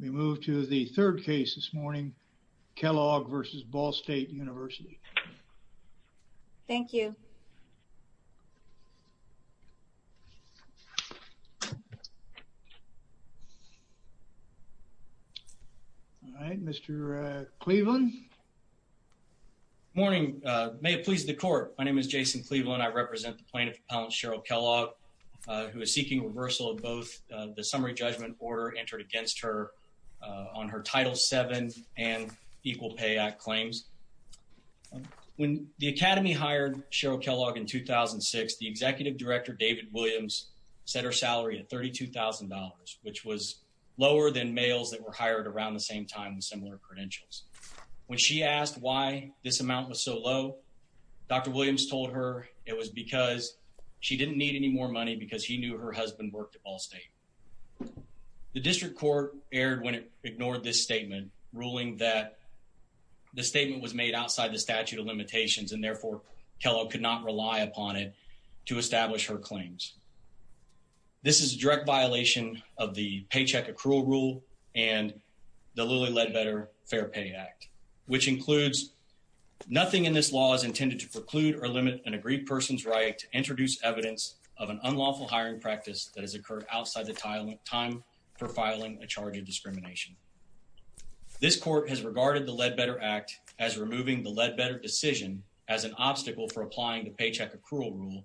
We move to the third case this morning, Kellogg v. Ball State University. Thank you. All right, Mr. Cleveland. Morning, may it please the court. My name is Jason Cleveland. I represent the plaintiff, Cheryl Kellogg, who is seeking reversal of both the summary judgment order entered against her on her Title VII and Equal Pay Act claims. When the Academy hired Cheryl Kellogg in 2006, the executive director, David Williams, set her salary at $32,000, which was lower than males that were hired around the same time with similar credentials. When she asked why this amount was so low, Dr. Williams told her it was because she didn't need any more money because he knew her husband worked at Ball State. The district court erred when it ignored this statement, ruling that the statement was made outside the statute of limitations and therefore Kellogg could not rely upon it to establish her claims. This is a direct violation of the to preclude or limit an agreed person's right to introduce evidence of an unlawful hiring practice that has occurred outside the time for filing a charge of discrimination. This court has regarded the Ledbetter Act as removing the Ledbetter decision as an obstacle for applying the paycheck accrual rule,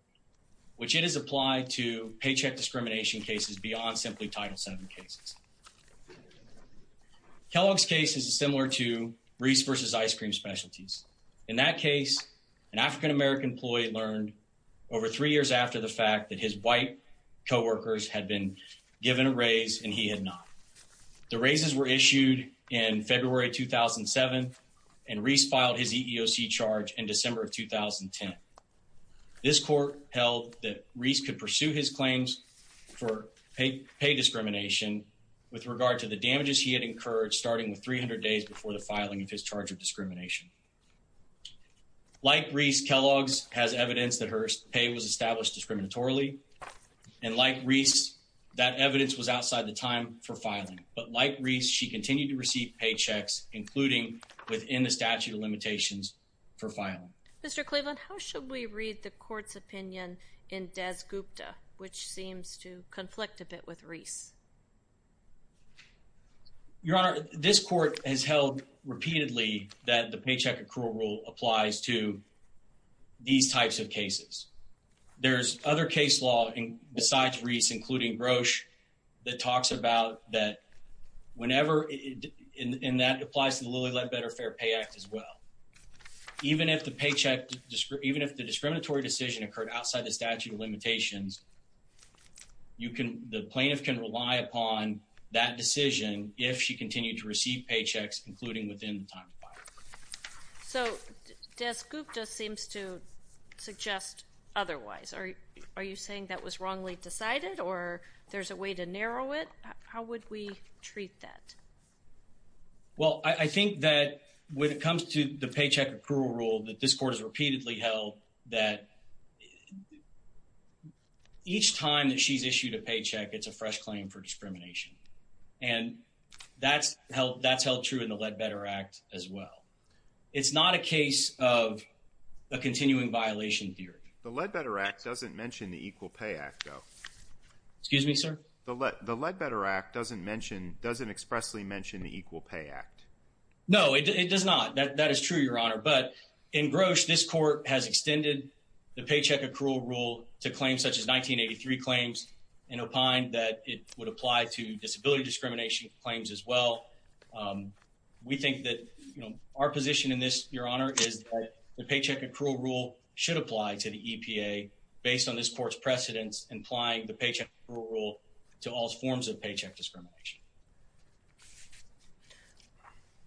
which it has applied to paycheck discrimination cases beyond simply Title VII cases. Kellogg's case is similar to Reese v. Ice Cream Specialties. In that case, an African-American employee learned over three years after the fact that his white co-workers had been given a raise and he had not. The raises were issued in February 2007, and Reese filed his EEOC charge in December of 2010. This court held that Reese could pursue his claims for pay discrimination with regard to the damages he had incurred starting with 300 days before the filing of his charge of discrimination. Like Reese, Kellogg's has evidence that her pay was established discriminatorily, and like Reese, that evidence was outside the time for filing. But like Reese, she continued to receive paychecks, including within the statute of limitations for filing. Mr. Cleveland, how should we read the court's opinion in Des Gupta, which seems to conflict a bit with Reese? Your Honor, this court has held repeatedly that the paycheck accrual rule applies to these types of cases. There's other case law besides Reese, including Roche, that talks about that whenever, and that applies to the Lilly Ledbetter Fair Pay Act as well. Even if the discriminatory decision occurred outside the statute of limitations, the plaintiff can rely upon that decision if she continued to receive paychecks, including within the time required. So Des Gupta seems to suggest otherwise. Are you saying that was wrongly decided, or there's a way to narrow it? How would we treat that? Well, I think that when it comes to the paycheck accrual rule that this court has repeatedly held, that each time that she's issued a paycheck, it's a fresh claim for discrimination. And that's held true in the Ledbetter Act as well. It's not a case of a continuing violation theory. The Ledbetter Act doesn't mention the Equal Pay Act, though. Excuse me, sir? The Ledbetter Act doesn't expressly mention the Equal Pay Act. No, it does not. That is true, Your Honor. But in Roche, this court has extended the paycheck accrual rule to claims such as 1983 claims, and opined that it would apply to disability discrimination claims as well. We think that our position in this, Your Honor, is that the paycheck accrual rule should apply to the EPA based on this court's precedents, implying the paycheck accrual to all forms of paycheck discrimination.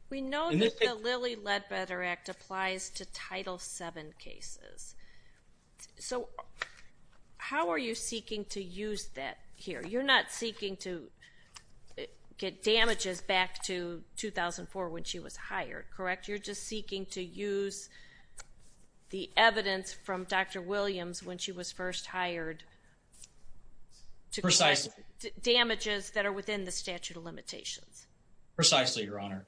We know that the Lilly Ledbetter Act applies to Title VII cases. So how are you seeking to use that here? You're not seeking to get damages back to 2004 when she was hired, correct? You're just seeking damages that are within the statute of limitations. Precisely, Your Honor.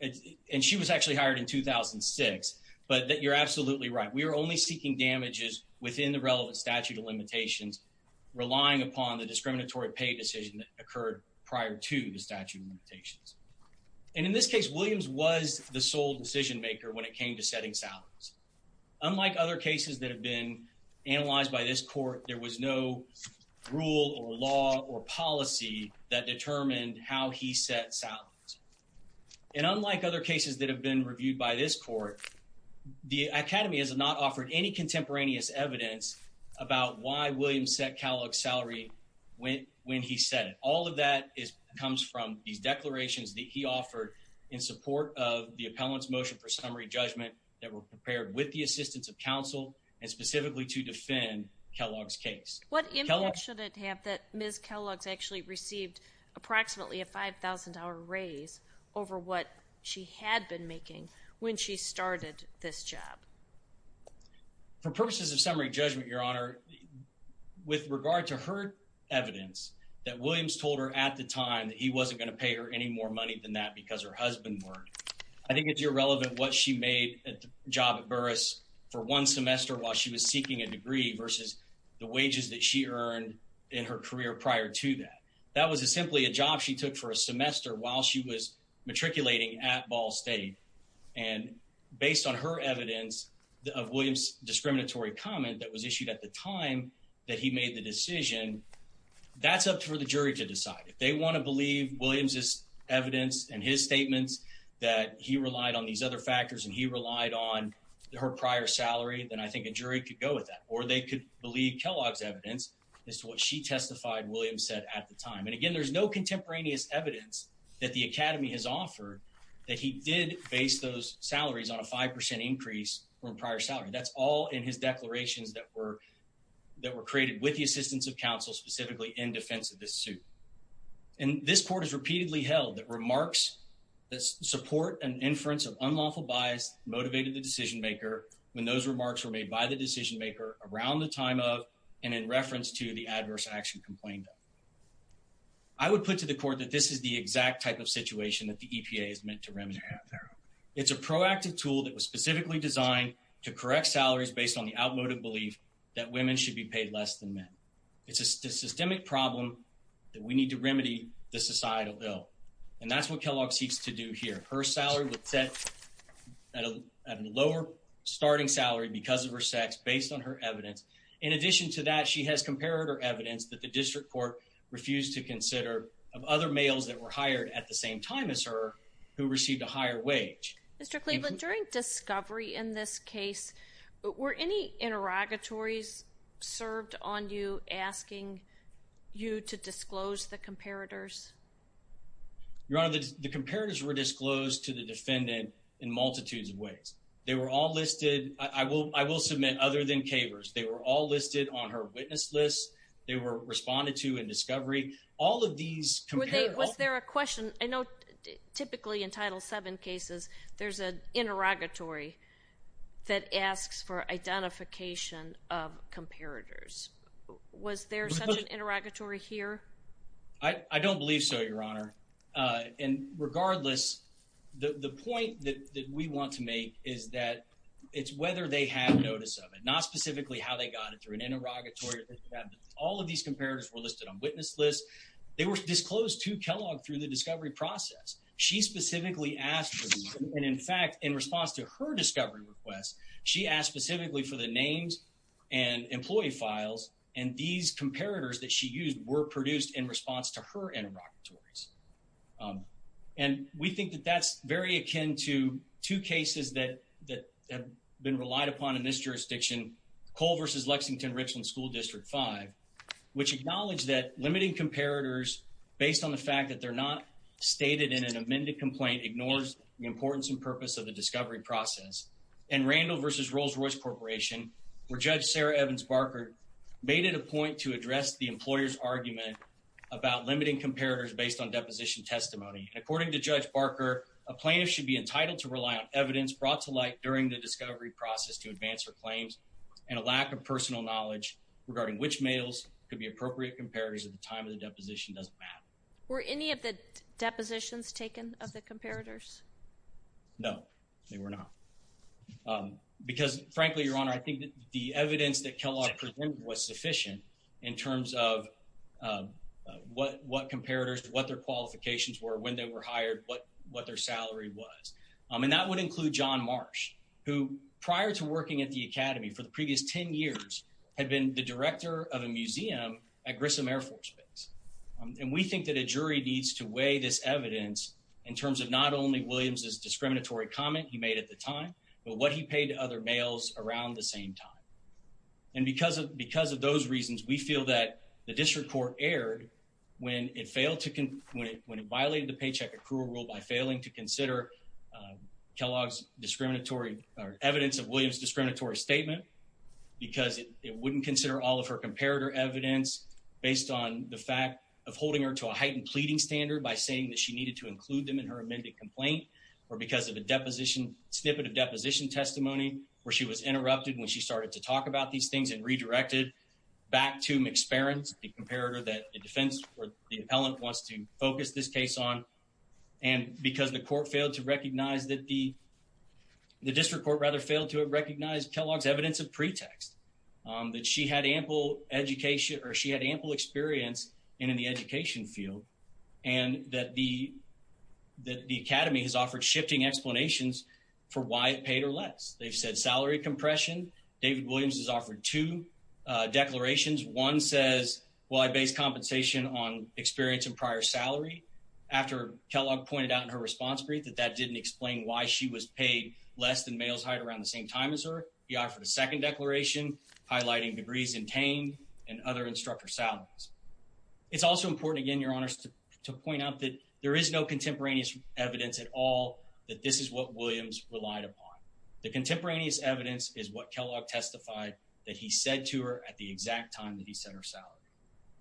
And she was actually hired in 2006. But you're absolutely right. We are only seeking damages within the relevant statute of limitations, relying upon the discriminatory pay decision that occurred prior to the statute of limitations. And in this case, Williams was the sole decision maker when it came to setting salaries. Unlike other cases that have been analyzed by this court, there was no rule or law or policy that determined how he set salaries. And unlike other cases that have been reviewed by this court, the Academy has not offered any contemporaneous evidence about why Williams set Kellogg's salary when he set it. All of that comes from these declarations that he offered in support of the appellant's motion for summary judgment that were prepared with the intent that Ms. Kellogg's actually received approximately a $5,000 raise over what she had been making when she started this job. For purposes of summary judgment, Your Honor, with regard to her evidence that Williams told her at the time that he wasn't going to pay her any more money than that because her husband worked, I think it's irrelevant what she made at the job at Burris for one semester while she was seeking a degree versus the wages that she earned in her career prior to that. That was simply a job she took for a semester while she was matriculating at Ball State. And based on her evidence of Williams' discriminatory comment that was issued at the time that he made the decision, that's up for the jury to decide. If they want to believe Williams' evidence and his statements that he relied on these other factors and he relied on her prior salary, then I think a jury could go with that. Or they could believe Kellogg's evidence as to what she testified Williams said at the time. And again, there's no contemporaneous evidence that the Academy has offered that he did base those salaries on a 5% increase from prior salary. That's all in his declarations that were created with the assistance of counsel specifically in defense of this suit. And this court has repeatedly held that remarks that support an inference of unlawful bias motivated the decision-maker when those remarks were made by the decision-maker around the time of and in reference to the adverse action complained of. I would put to the court that this is the exact type of situation that the EPA is meant to remedy. It's a proactive tool that was specifically designed to correct salaries based on the outmoded belief that women should be paid less than men. It's a systemic problem that we need to remedy the societal ill. And that's what lower starting salary because of her sex based on her evidence. In addition to that, she has comparator evidence that the district court refused to consider of other males that were hired at the same time as her who received a higher wage. Mr. Cleveland, during discovery in this case, were any interrogatories served on you asking you to disclose the comparators? Your Honor, the comparators were disclosed to the defendant in multitudes of ways. They were all listed. I will submit other than Kaver's. They were all listed on her witness list. They were responded to in discovery. All of these comparators... Were they, was there a question? I know typically in Title VII cases, there's an interrogatory that asks for identification of comparators. Was there such an interrogatory here? I don't believe so, Your Honor. And regardless, the point that we want to make is that it's whether they have notice of it, not specifically how they got it through an interrogatory. All of these comparators were listed on witness lists. They were disclosed to Kellogg through the discovery process. She specifically asked for these. And in fact, in response to her discovery request, she asked specifically for the names and employee files. And these comparators that she used were produced in response to her interrogatories. And we think that that's very akin to two cases that have been relied upon in this jurisdiction, Cole versus Lexington Richland School District V, which acknowledged that limiting comparators based on the fact that they're not stated in an amended complaint ignores the importance and purpose of the discovery process. And Randall versus Rolls-Royce Corporation, where Judge Sarah Evans Barker made it a point to address the employer's argument about limiting comparators based on deposition testimony. According to Judge Barker, a plaintiff should be entitled to rely on evidence brought to light during the discovery process to advance her claims and a lack of personal knowledge regarding which mails could be appropriate comparators at the time of the deposition doesn't matter. Were any of the depositions taken of the comparators? No, they were not. Because frankly, Your Honor, I think that the evidence that Kellogg presented was sufficient in terms of what comparators, what their qualifications were, when they were hired, what their salary was. And that would include John Marsh, who prior to working at the academy for the previous 10 years had been the director of a museum at Grissom Air Force Base. And we think that a jury needs to weigh this evidence in terms of not only Williams's discriminatory comment he we feel that the district court erred when it violated the paycheck accrual rule by failing to consider Kellogg's evidence of Williams's discriminatory statement because it wouldn't consider all of her comparator evidence based on the fact of holding her to a heightened pleading standard by saying that she needed to include them in her amended complaint or because of a snippet of deposition testimony where she was interrupted when she started to redirect it back to McSparron's, the comparator that the defense or the appellant wants to focus this case on. And because the court failed to recognize that the district court rather failed to recognize Kellogg's evidence of pretext, that she had ample education or she had ample experience in the education field and that the academy has offered shifting explanations for why it paid her less. They've said salary compression. David Williams has offered two declarations. One says, well, I base compensation on experience and prior salary. After Kellogg pointed out in her response brief that that didn't explain why she was paid less than Males Height around the same time as her, he offered a second declaration highlighting degrees intained and other instructor salaries. It's also important again, your honors, to point out that there is no contemporaneous evidence at all that this is what Williams relied upon. The contemporaneous evidence is what Kellogg testified that he said to her at the exact time that he set her salary.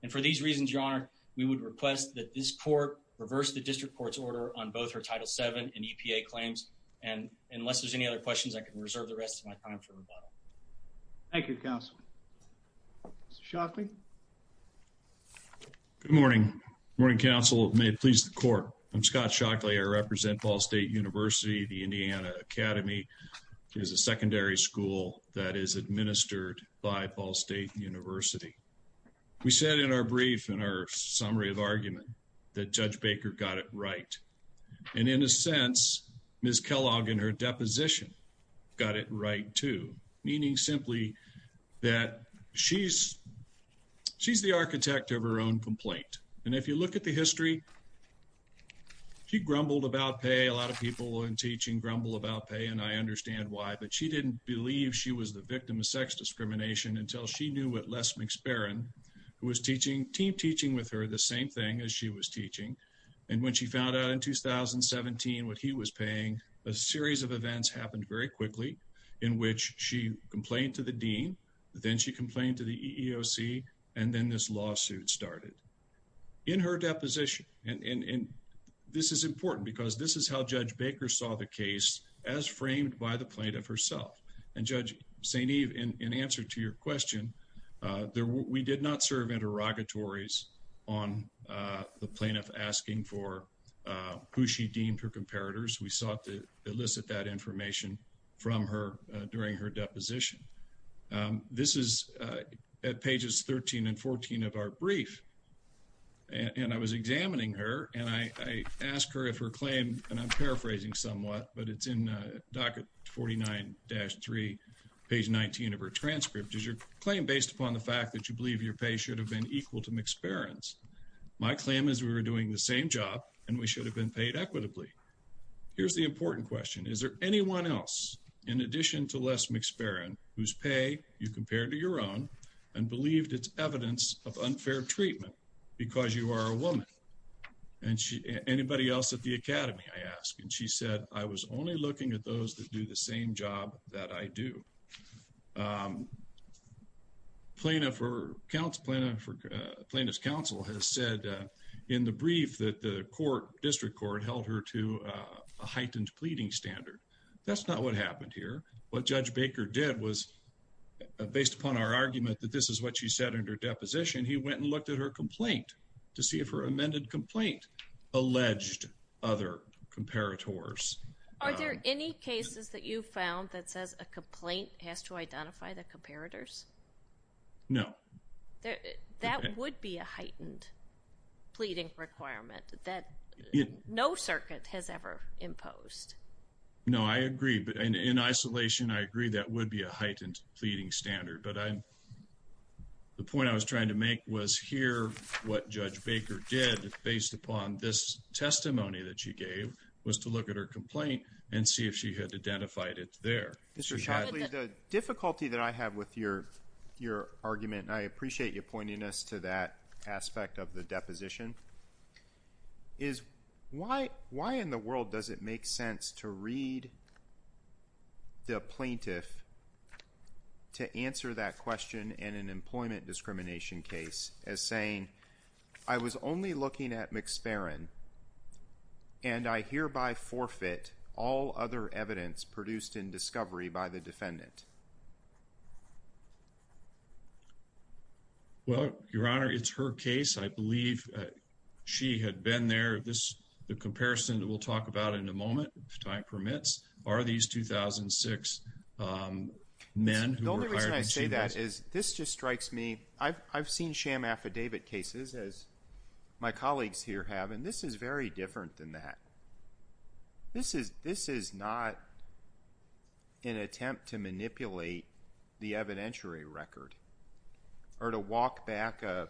And for these reasons, your honor, we would request that this court reverse the district court's order on both her Title VII and EPA claims. And unless there's any other questions, I can reserve the rest of my time for rebuttal. Thank you, counsel. Mr. Shockley? Good morning. Good morning, counsel. May it please the court. I'm Scott Shockley. I represent Ball State University. The Indiana Academy is a secondary school that is administered by Ball State University. We said in our brief, in our summary of argument, that Judge Baker got it right. And in a sense, Ms. Kellogg in her deposition got it right too, meaning simply that she's the architect of her own complaint. And if you look at the history, she grumbled about pay. A lot of people in teaching grumble about pay, and I understand why. But she didn't believe she was the victim of sex discrimination until she knew what Les McSparin, who was teaching, team teaching with her, the same thing as she was teaching. And when she found out in 2017 what he was paying, a series of events happened very quickly in which she complained to the dean, then she complained to the EEOC, and then this lawsuit started. In her deposition, and this is important because this is how Judge Baker saw the case as framed by the plaintiff herself. And Judge St. Eve, in answer to your question, we did not serve interrogatories on the plaintiff asking for who she deemed her during her deposition. This is at pages 13 and 14 of our brief. And I was examining her, and I asked her if her claim, and I'm paraphrasing somewhat, but it's in docket 49-3, page 19 of her transcript. Is your claim based upon the fact that you believe your pay should have been equal to McSparin's? My claim is we were doing the same job, and we should have been paid equitably. Here's the important question. Is there anyone else, in addition to Les McSparin, whose pay you compared to your own and believed it's evidence of unfair treatment because you are a woman? And anybody else at the academy, I ask. And she said, I was only looking at those that do the same job that I do. Plaintiff's counsel has said in the brief that the district court held her to a heightened pleading standard. That's not what happened here. What Judge Baker did was, based upon our argument that this is what she said in her deposition, he went and looked at her complaint to see if her amended complaint alleged other comparators. Are there any cases that you've found that says a complaint has to identify the comparators? No. That would be a heightened pleading requirement that no circuit has ever imposed. No, I agree. But in isolation, I agree that would be a heightened pleading standard. But the point I was trying to make was here what Judge Baker did, based upon this testimony that she gave, was to look at her complaint and see if she had identified it there. Mr. Shively, the difficulty that I have with your argument, and I appreciate you pointing us to that aspect of the deposition, is why in the world does it make sense to read the plaintiff to answer that question in an employment discrimination case as saying, I was only looking at McSparren and I hereby forfeit all other evidence produced in discovery by the defendant? Well, Your Honor, it's her case. I believe she had been there. The comparison that we'll talk about in a moment, if time permits, are these 2006 men who were hired. The only reason I say that is this just strikes me. I've seen sham affidavit cases, as my colleagues here have, and this is very different than that. This is not an attempt to manipulate the evidentiary record or to walk back a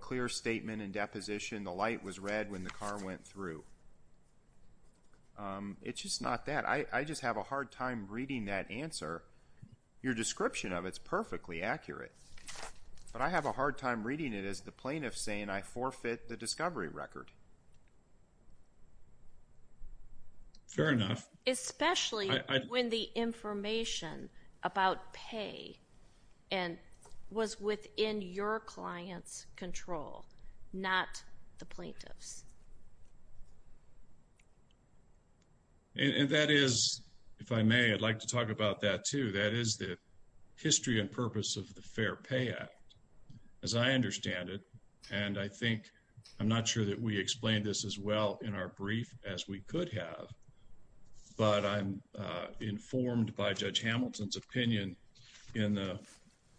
clear statement in deposition, the light was red when the car went through. It's just not that. I just have a hard time reading that answer, your description of it, it's perfectly accurate. But I have a hard time reading it as the plaintiff saying, I forfeit the discovery record. Fair enough. Especially when the information about pay was within your client's control, not the plaintiff's. And that is, if I may, I'd like to talk about that, too. That is the history and purpose of I think, I'm not sure that we explained this as well in our brief as we could have, but I'm informed by Judge Hamilton's opinion in the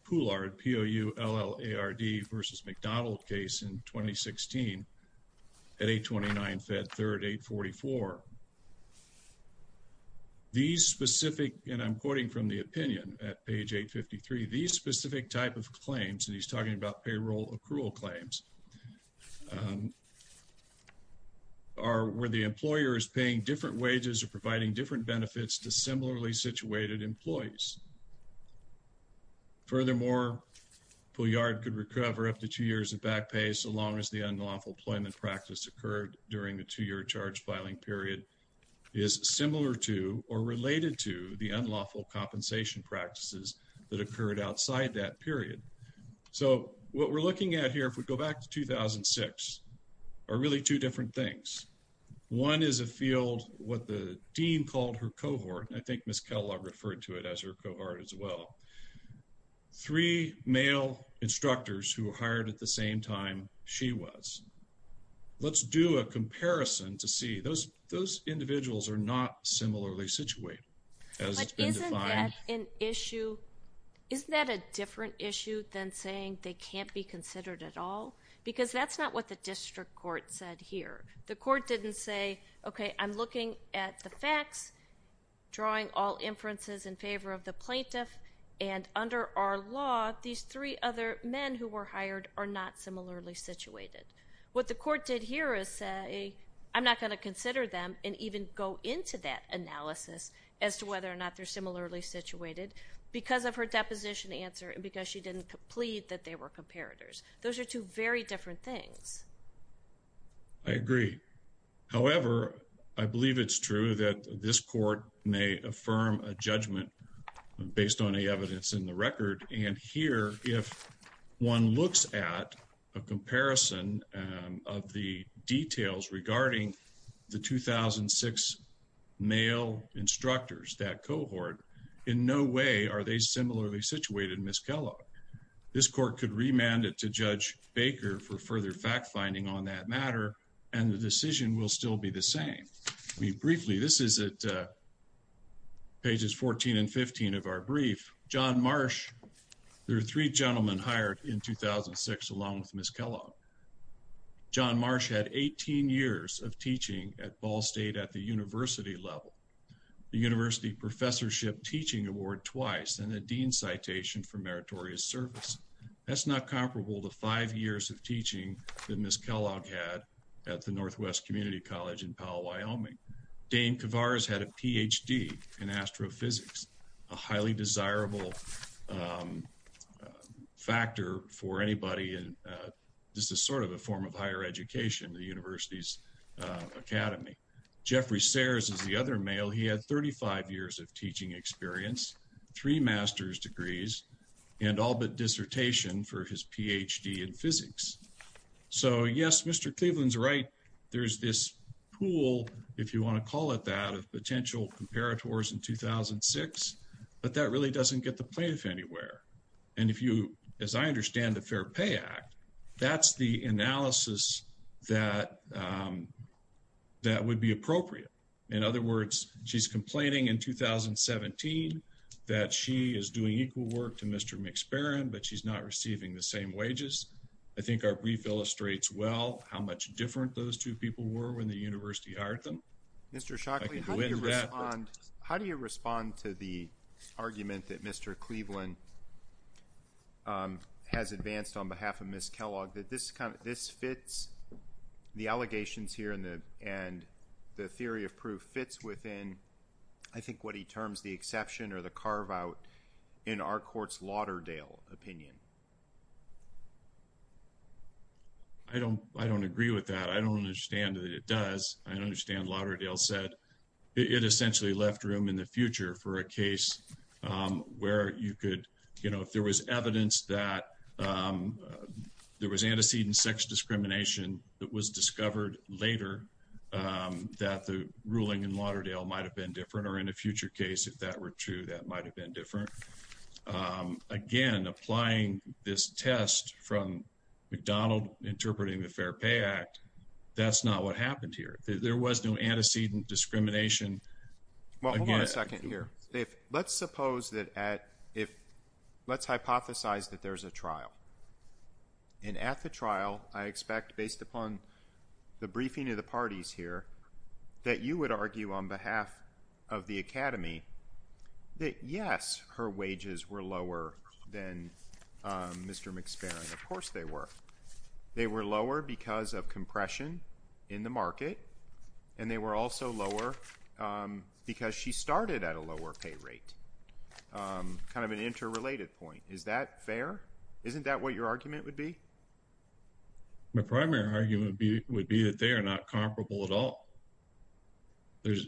Poulard, P-O-U-L-L-A-R-D versus McDonald case in 2016 at 829 Fed 3rd 844. These specific, and I'm quoting from the opinion at page 853, these specific type of claims, and he's talking about payroll accrual claims, are where the employer is paying different wages or providing different benefits to similarly situated employees. Furthermore, Poullard could recover up to two years of back pay so long as the unlawful employment practice occurred during the two-year charge filing period is similar to or related to the unlawful compensation practices that occurred outside that period. So, what we're looking at here, if we go back to 2006, are really two different things. One is a field, what the dean called her cohort, and I think Ms. Kellogg referred to it as her cohort as well, three male instructors who were hired at the same time she was. Let's do a comparison to see. Those individuals are not similarly situated. Isn't that an issue? Isn't that a different issue than saying they can't be considered at all? Because that's not what the district court said here. The court didn't say, okay, I'm looking at the facts, drawing all inferences in favor of the plaintiff, and under our law, these three other men who were hired are not similarly situated. What the court did here is say, I'm not going to consider them and even go into that analysis as to whether or not they're similarly situated because of her deposition answer and because she didn't plead that they were comparators. Those are two very different things. I agree. However, I believe it's true that this court may affirm a judgment based on of the details regarding the 2006 male instructors, that cohort. In no way are they similarly situated, Ms. Kellogg. This court could remand it to Judge Baker for further fact finding on that matter, and the decision will still be the same. Briefly, this is at pages 14 and 15 of our brief. John Marsh, there are three gentlemen hired in 2006 along with Ms. Kellogg. John Marsh had 18 years of teaching at Ball State at the university level. The university professorship teaching award twice and a dean citation for meritorious service. That's not comparable to five years of teaching that Ms. Kellogg had at the Northwest Community College in Powell, Wyoming. Dane Kavars had a PhD in astrophysics, a highly desirable factor for anybody, and this is sort of a form of higher education, the university's academy. Jeffrey Sayers is the other male. He had 35 years of teaching experience, three master's degrees, and all but dissertation for his PhD in physics. So, yes, Mr. Cleveland's right. There's this pool, if you want to call it that, of potential comparators in 2006, but that really doesn't get the play of anywhere. And if you, as I understand the Fair Pay Act, that's the analysis that would be appropriate. In other words, she's complaining in 2017 that she is doing equal work to Mr. McSparin, but she's not receiving the same wages. I think our brief illustrates well how much different those two people were when the university hired them. Mr. Shockley, how do you respond to the argument that Mr. Cleveland has advanced on behalf of Ms. Kellogg that this fits, the allegations here and the theory of proof fits within, I think, what he terms the exception or the carve-out in our court's Lauderdale opinion? I don't agree with that. I don't understand that it does. I don't understand that it essentially left room in the future for a case where you could, you know, if there was evidence that there was antecedent sex discrimination that was discovered later, that the ruling in Lauderdale might have been different or in a future case, if that were true, that might have been different. Again, applying this test from McDonald interpreting the Fair Act, that's not what happened here. There was no antecedent discrimination. Well, hold on a second here. Let's suppose that at, if, let's hypothesize that there's a trial and at the trial, I expect, based upon the briefing of the parties here, that you would argue on behalf of the academy that yes, her wages were lower than Mr. McSparin. Of course they were. They were lower because of compression in the market and they were also lower because she started at a lower pay rate. Kind of an interrelated point. Is that fair? Isn't that what your argument would be? My primary argument would be that they are not comparable at all. There's,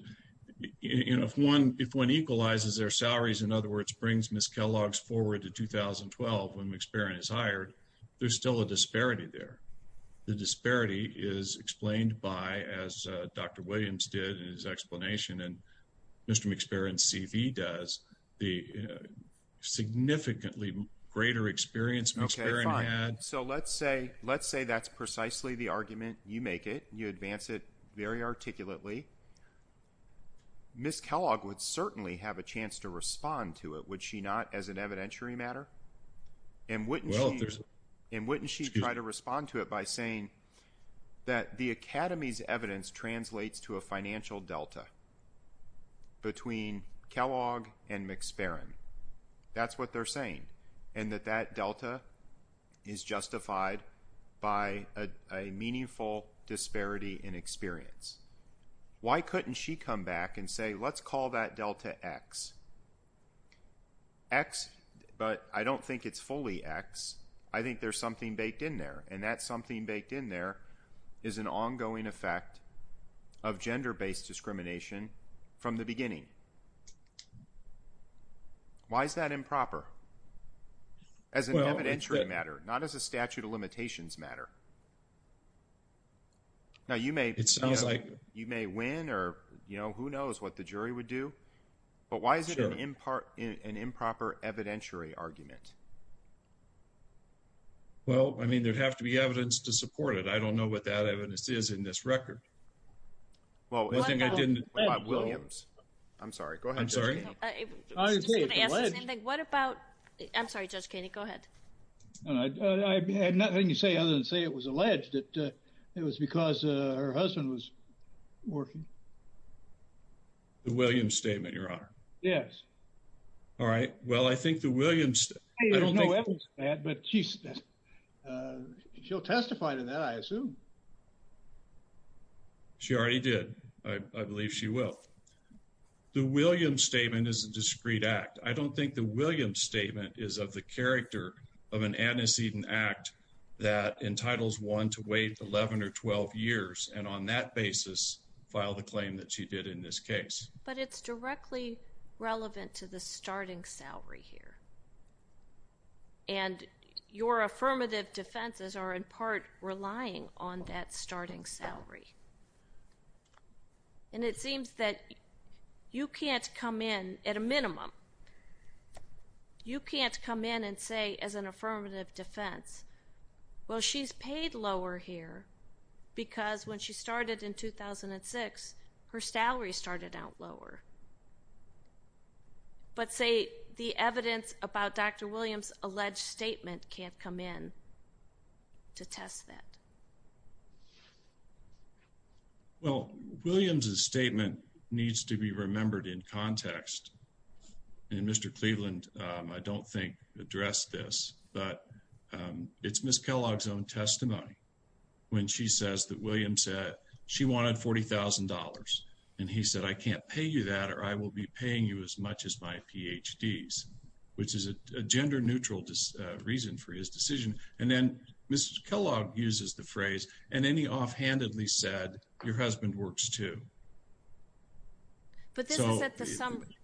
you know, if one equalizes their salaries, in other words, brings Ms. Kellogg's forward to 2012 when McSparin is hired, there's still a disparity there. The disparity is explained by, as Dr. Williams did in his explanation and Mr. McSparin's CV does, the significantly greater experience McSparin had. Okay, fine. So let's say that's precisely the argument. You make it. You advance it very articulately. Ms. Kellogg would certainly have a chance to respond to it, would she not, as an evidentiary matter? And wouldn't she try to respond to it by saying that the academy's evidence translates to a financial delta between Kellogg and McSparin? That's what they're saying. And that that delta is justified by a meaningful disparity in experience. Why couldn't she come back and say, let's call that delta X? X, but I don't think it's fully X. I think there's something baked in there. And that something baked in there is an ongoing effect of gender-based discrimination from the beginning. Why is that improper? As an evidentiary matter, not as a statute of limitations matter. Now, you may, you may win or, you know, who knows what the jury would do, but why is it an improper evidentiary argument? Well, I mean, there'd have to be evidence to support it. I don't know what that evidence is in this record. Well, I think I didn't. I'm sorry. Go ahead. I'm sorry. I was just going to ask the same thing. What about, I'm sorry, Judge Kainey, go ahead. And I had nothing to say other than say it was alleged that it was because her husband was working. The Williams statement, Your Honor. Yes. All right. Well, I think the Williams, but she's, she'll testify to that, I assume. She already did. I believe she will. The Williams statement is a discreet act. I don't think the of an antecedent act that entitles one to wait 11 or 12 years and on that basis file the claim that she did in this case. But it's directly relevant to the starting salary here. And your affirmative defenses are in part relying on that starting salary. And it seems that you can't come in at a minimum, you can't come in and say as an affirmative defense, well, she's paid lower here because when she started in 2006, her salary started out lower. But say the evidence about Dr. Williams alleged statement can't come in to test that. Well, Williams's statement needs to be remembered in context. And Mr. Cleveland, I don't think addressed this, but it's Ms. Kellogg's own testimony when she says that Williams said she wanted $40,000 and he said, I can't pay you that or I will be paying you as much as my PhDs, which is a gender neutral reason for his decision. And then Ms. Kellogg uses the phrase and then he offhandedly said, your husband works too. But this is at the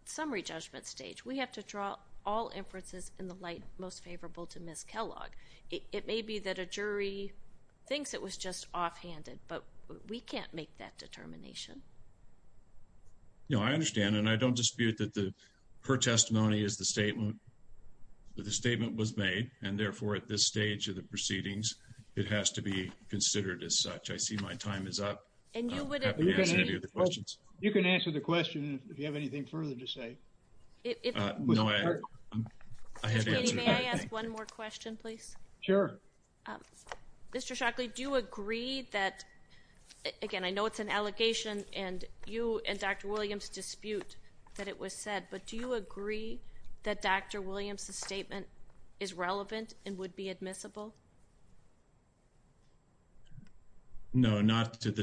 summary judgment stage. We have to draw all inferences in the light most favorable to Ms. Kellogg. It may be that a jury thinks it was just offhanded, but we can't make that determination. No, I understand and I don't dispute that her testimony is the statement, that the statement was made and therefore at this point, I'm happy to answer any of the questions. You can answer the question if you have anything further to say. I have an answer. May I ask one more question, please? Sure. Mr. Shockley, do you agree that, again, I know it's an allegation and you and Dr. Williams dispute that it was said, but do you agree that Dr. Williams's statement is relevant and would be admissible? No, not to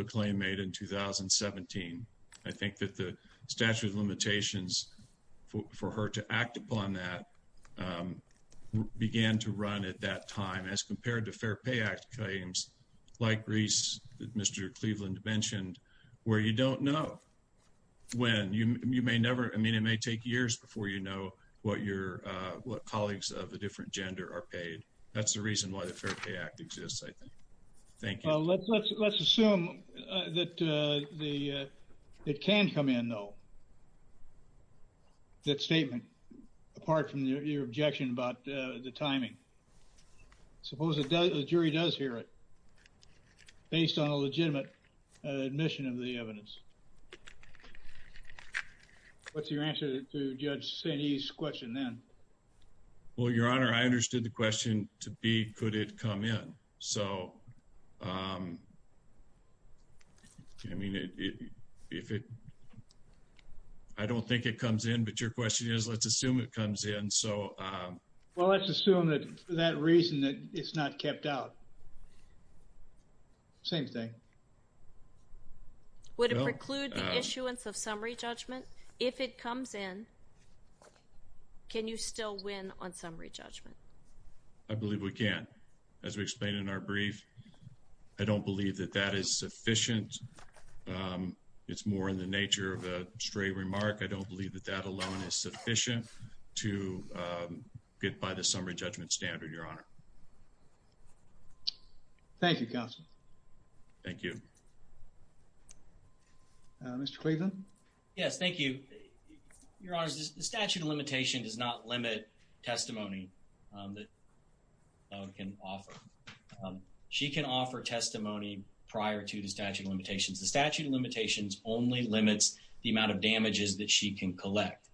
a claim made in 2017. I think that the statute of limitations for her to act upon that began to run at that time as compared to Fair Pay Act claims, like Reese, Mr. Cleveland mentioned, where you don't know when. You may never, I mean, it may take years before you know what your, what colleagues of a different gender are paid. That's the reason why the Fair Pay Act exists, I think. Thank you. Well, let's assume that the, it can come in though, that statement, apart from your objection about the timing. Suppose the jury does hear it based on a legitimate admission of the evidence. What's your answer to Judge Sainee's question then? Well, Your Honor, I understood the question to be, could it come in? So, I mean, if it, I don't think it comes in, but your question is, let's assume it comes in. So, well, let's assume that for that reason that it's not kept out. Same thing. Would it preclude the issuance of summary judgment? If it comes in, can you still win on summary judgment? I believe we can. As we explained in our brief, I don't believe that that is sufficient. It's more in the nature of a stray remark. I don't believe that that alone is sufficient to get by the summary judgment standard, Your Honor. Thank you, Counsel. Thank you. Mr. Cleveland? Yes, thank you. Your Honor, the statute of limitations does not limit testimony that the defendant can offer. She can offer testimony prior to the statute of limitations. The statute of limitations only limits the amount of damages that she can collect.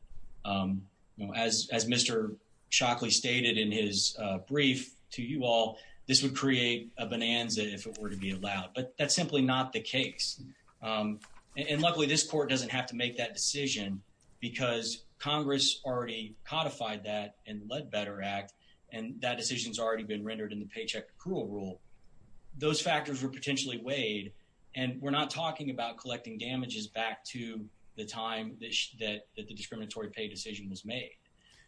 You know, as Mr. Shockley stated in his brief to you all, this would create a bonanza if it were to be allowed, but that's simply not the case. And luckily, this court doesn't have to make that decision because Congress already codified that in the Leadbetter Act, and that decision's already been rendered in the Paycheck Accrual Rule. Those factors were potentially weighed, and we're not talking about collecting damages back to the time that the discriminatory pay decision was made.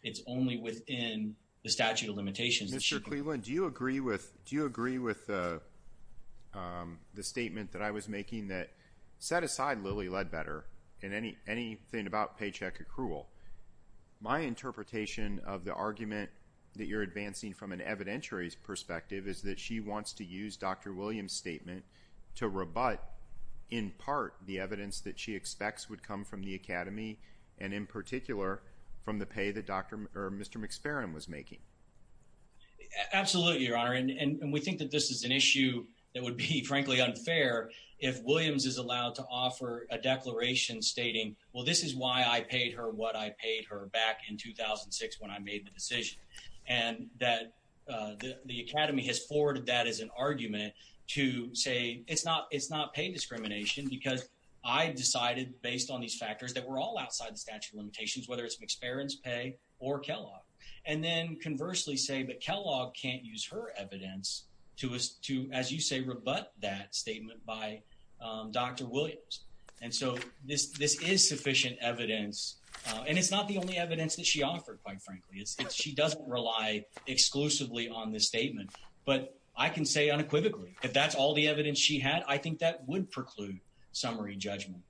It's only within the statute of limitations. Mr. Cleveland, do you agree with the statement that I was making that, set aside Lilly Leadbetter and anything about paycheck accrual, my interpretation of the argument that you're advancing from an evidentiary perspective is that she wants to use Dr. Williams' statement to rebut, in part, the evidence that she expects would come from the Academy, and in particular, from the pay that Dr. or Mr. McSparron was making? Absolutely, Your Honor, and we think that this is an issue that would be frankly unfair if Williams is allowed to offer a declaration stating, well, this is why I paid her what I paid. The Academy has forwarded that as an argument to say it's not pay discrimination because I decided based on these factors that we're all outside the statute of limitations, whether it's McSparron's pay or Kellogg, and then conversely say that Kellogg can't use her evidence to, as you say, rebut that statement by Dr. Williams, and so this is sufficient evidence, and it's not the only evidence that she offered, quite frankly. She doesn't rely exclusively on this statement, but I can say unequivocally if that's all the evidence she had, I think that would preclude summary judgment,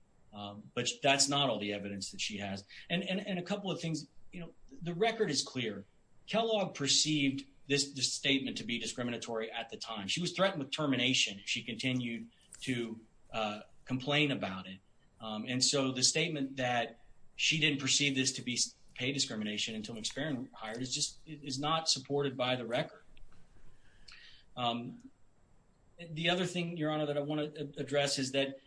but that's not all the evidence that she has, and a couple of things. You know, the record is clear. Kellogg perceived this statement to be discriminatory at the time. She was threatened with termination if she continued to complain about it, and so the statement that she didn't perceive this to be pay discrimination until McSparron hired is just not supported by the record. The other thing, Your Honor, that I want to address is that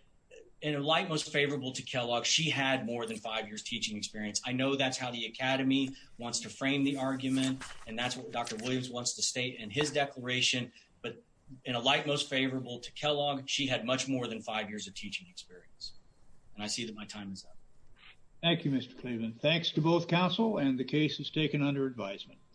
in a light most favorable to Kellogg, she had more than five years teaching experience. I know that's how the Academy wants to frame the argument, and that's what Dr. Williams wants to state in his declaration, but in a light most favorable to Kellogg, she had much more than five years of teaching experience, and I see that my time is up. Thank you, Mr. Cleveland. Thanks to both and the case is taken under advisement.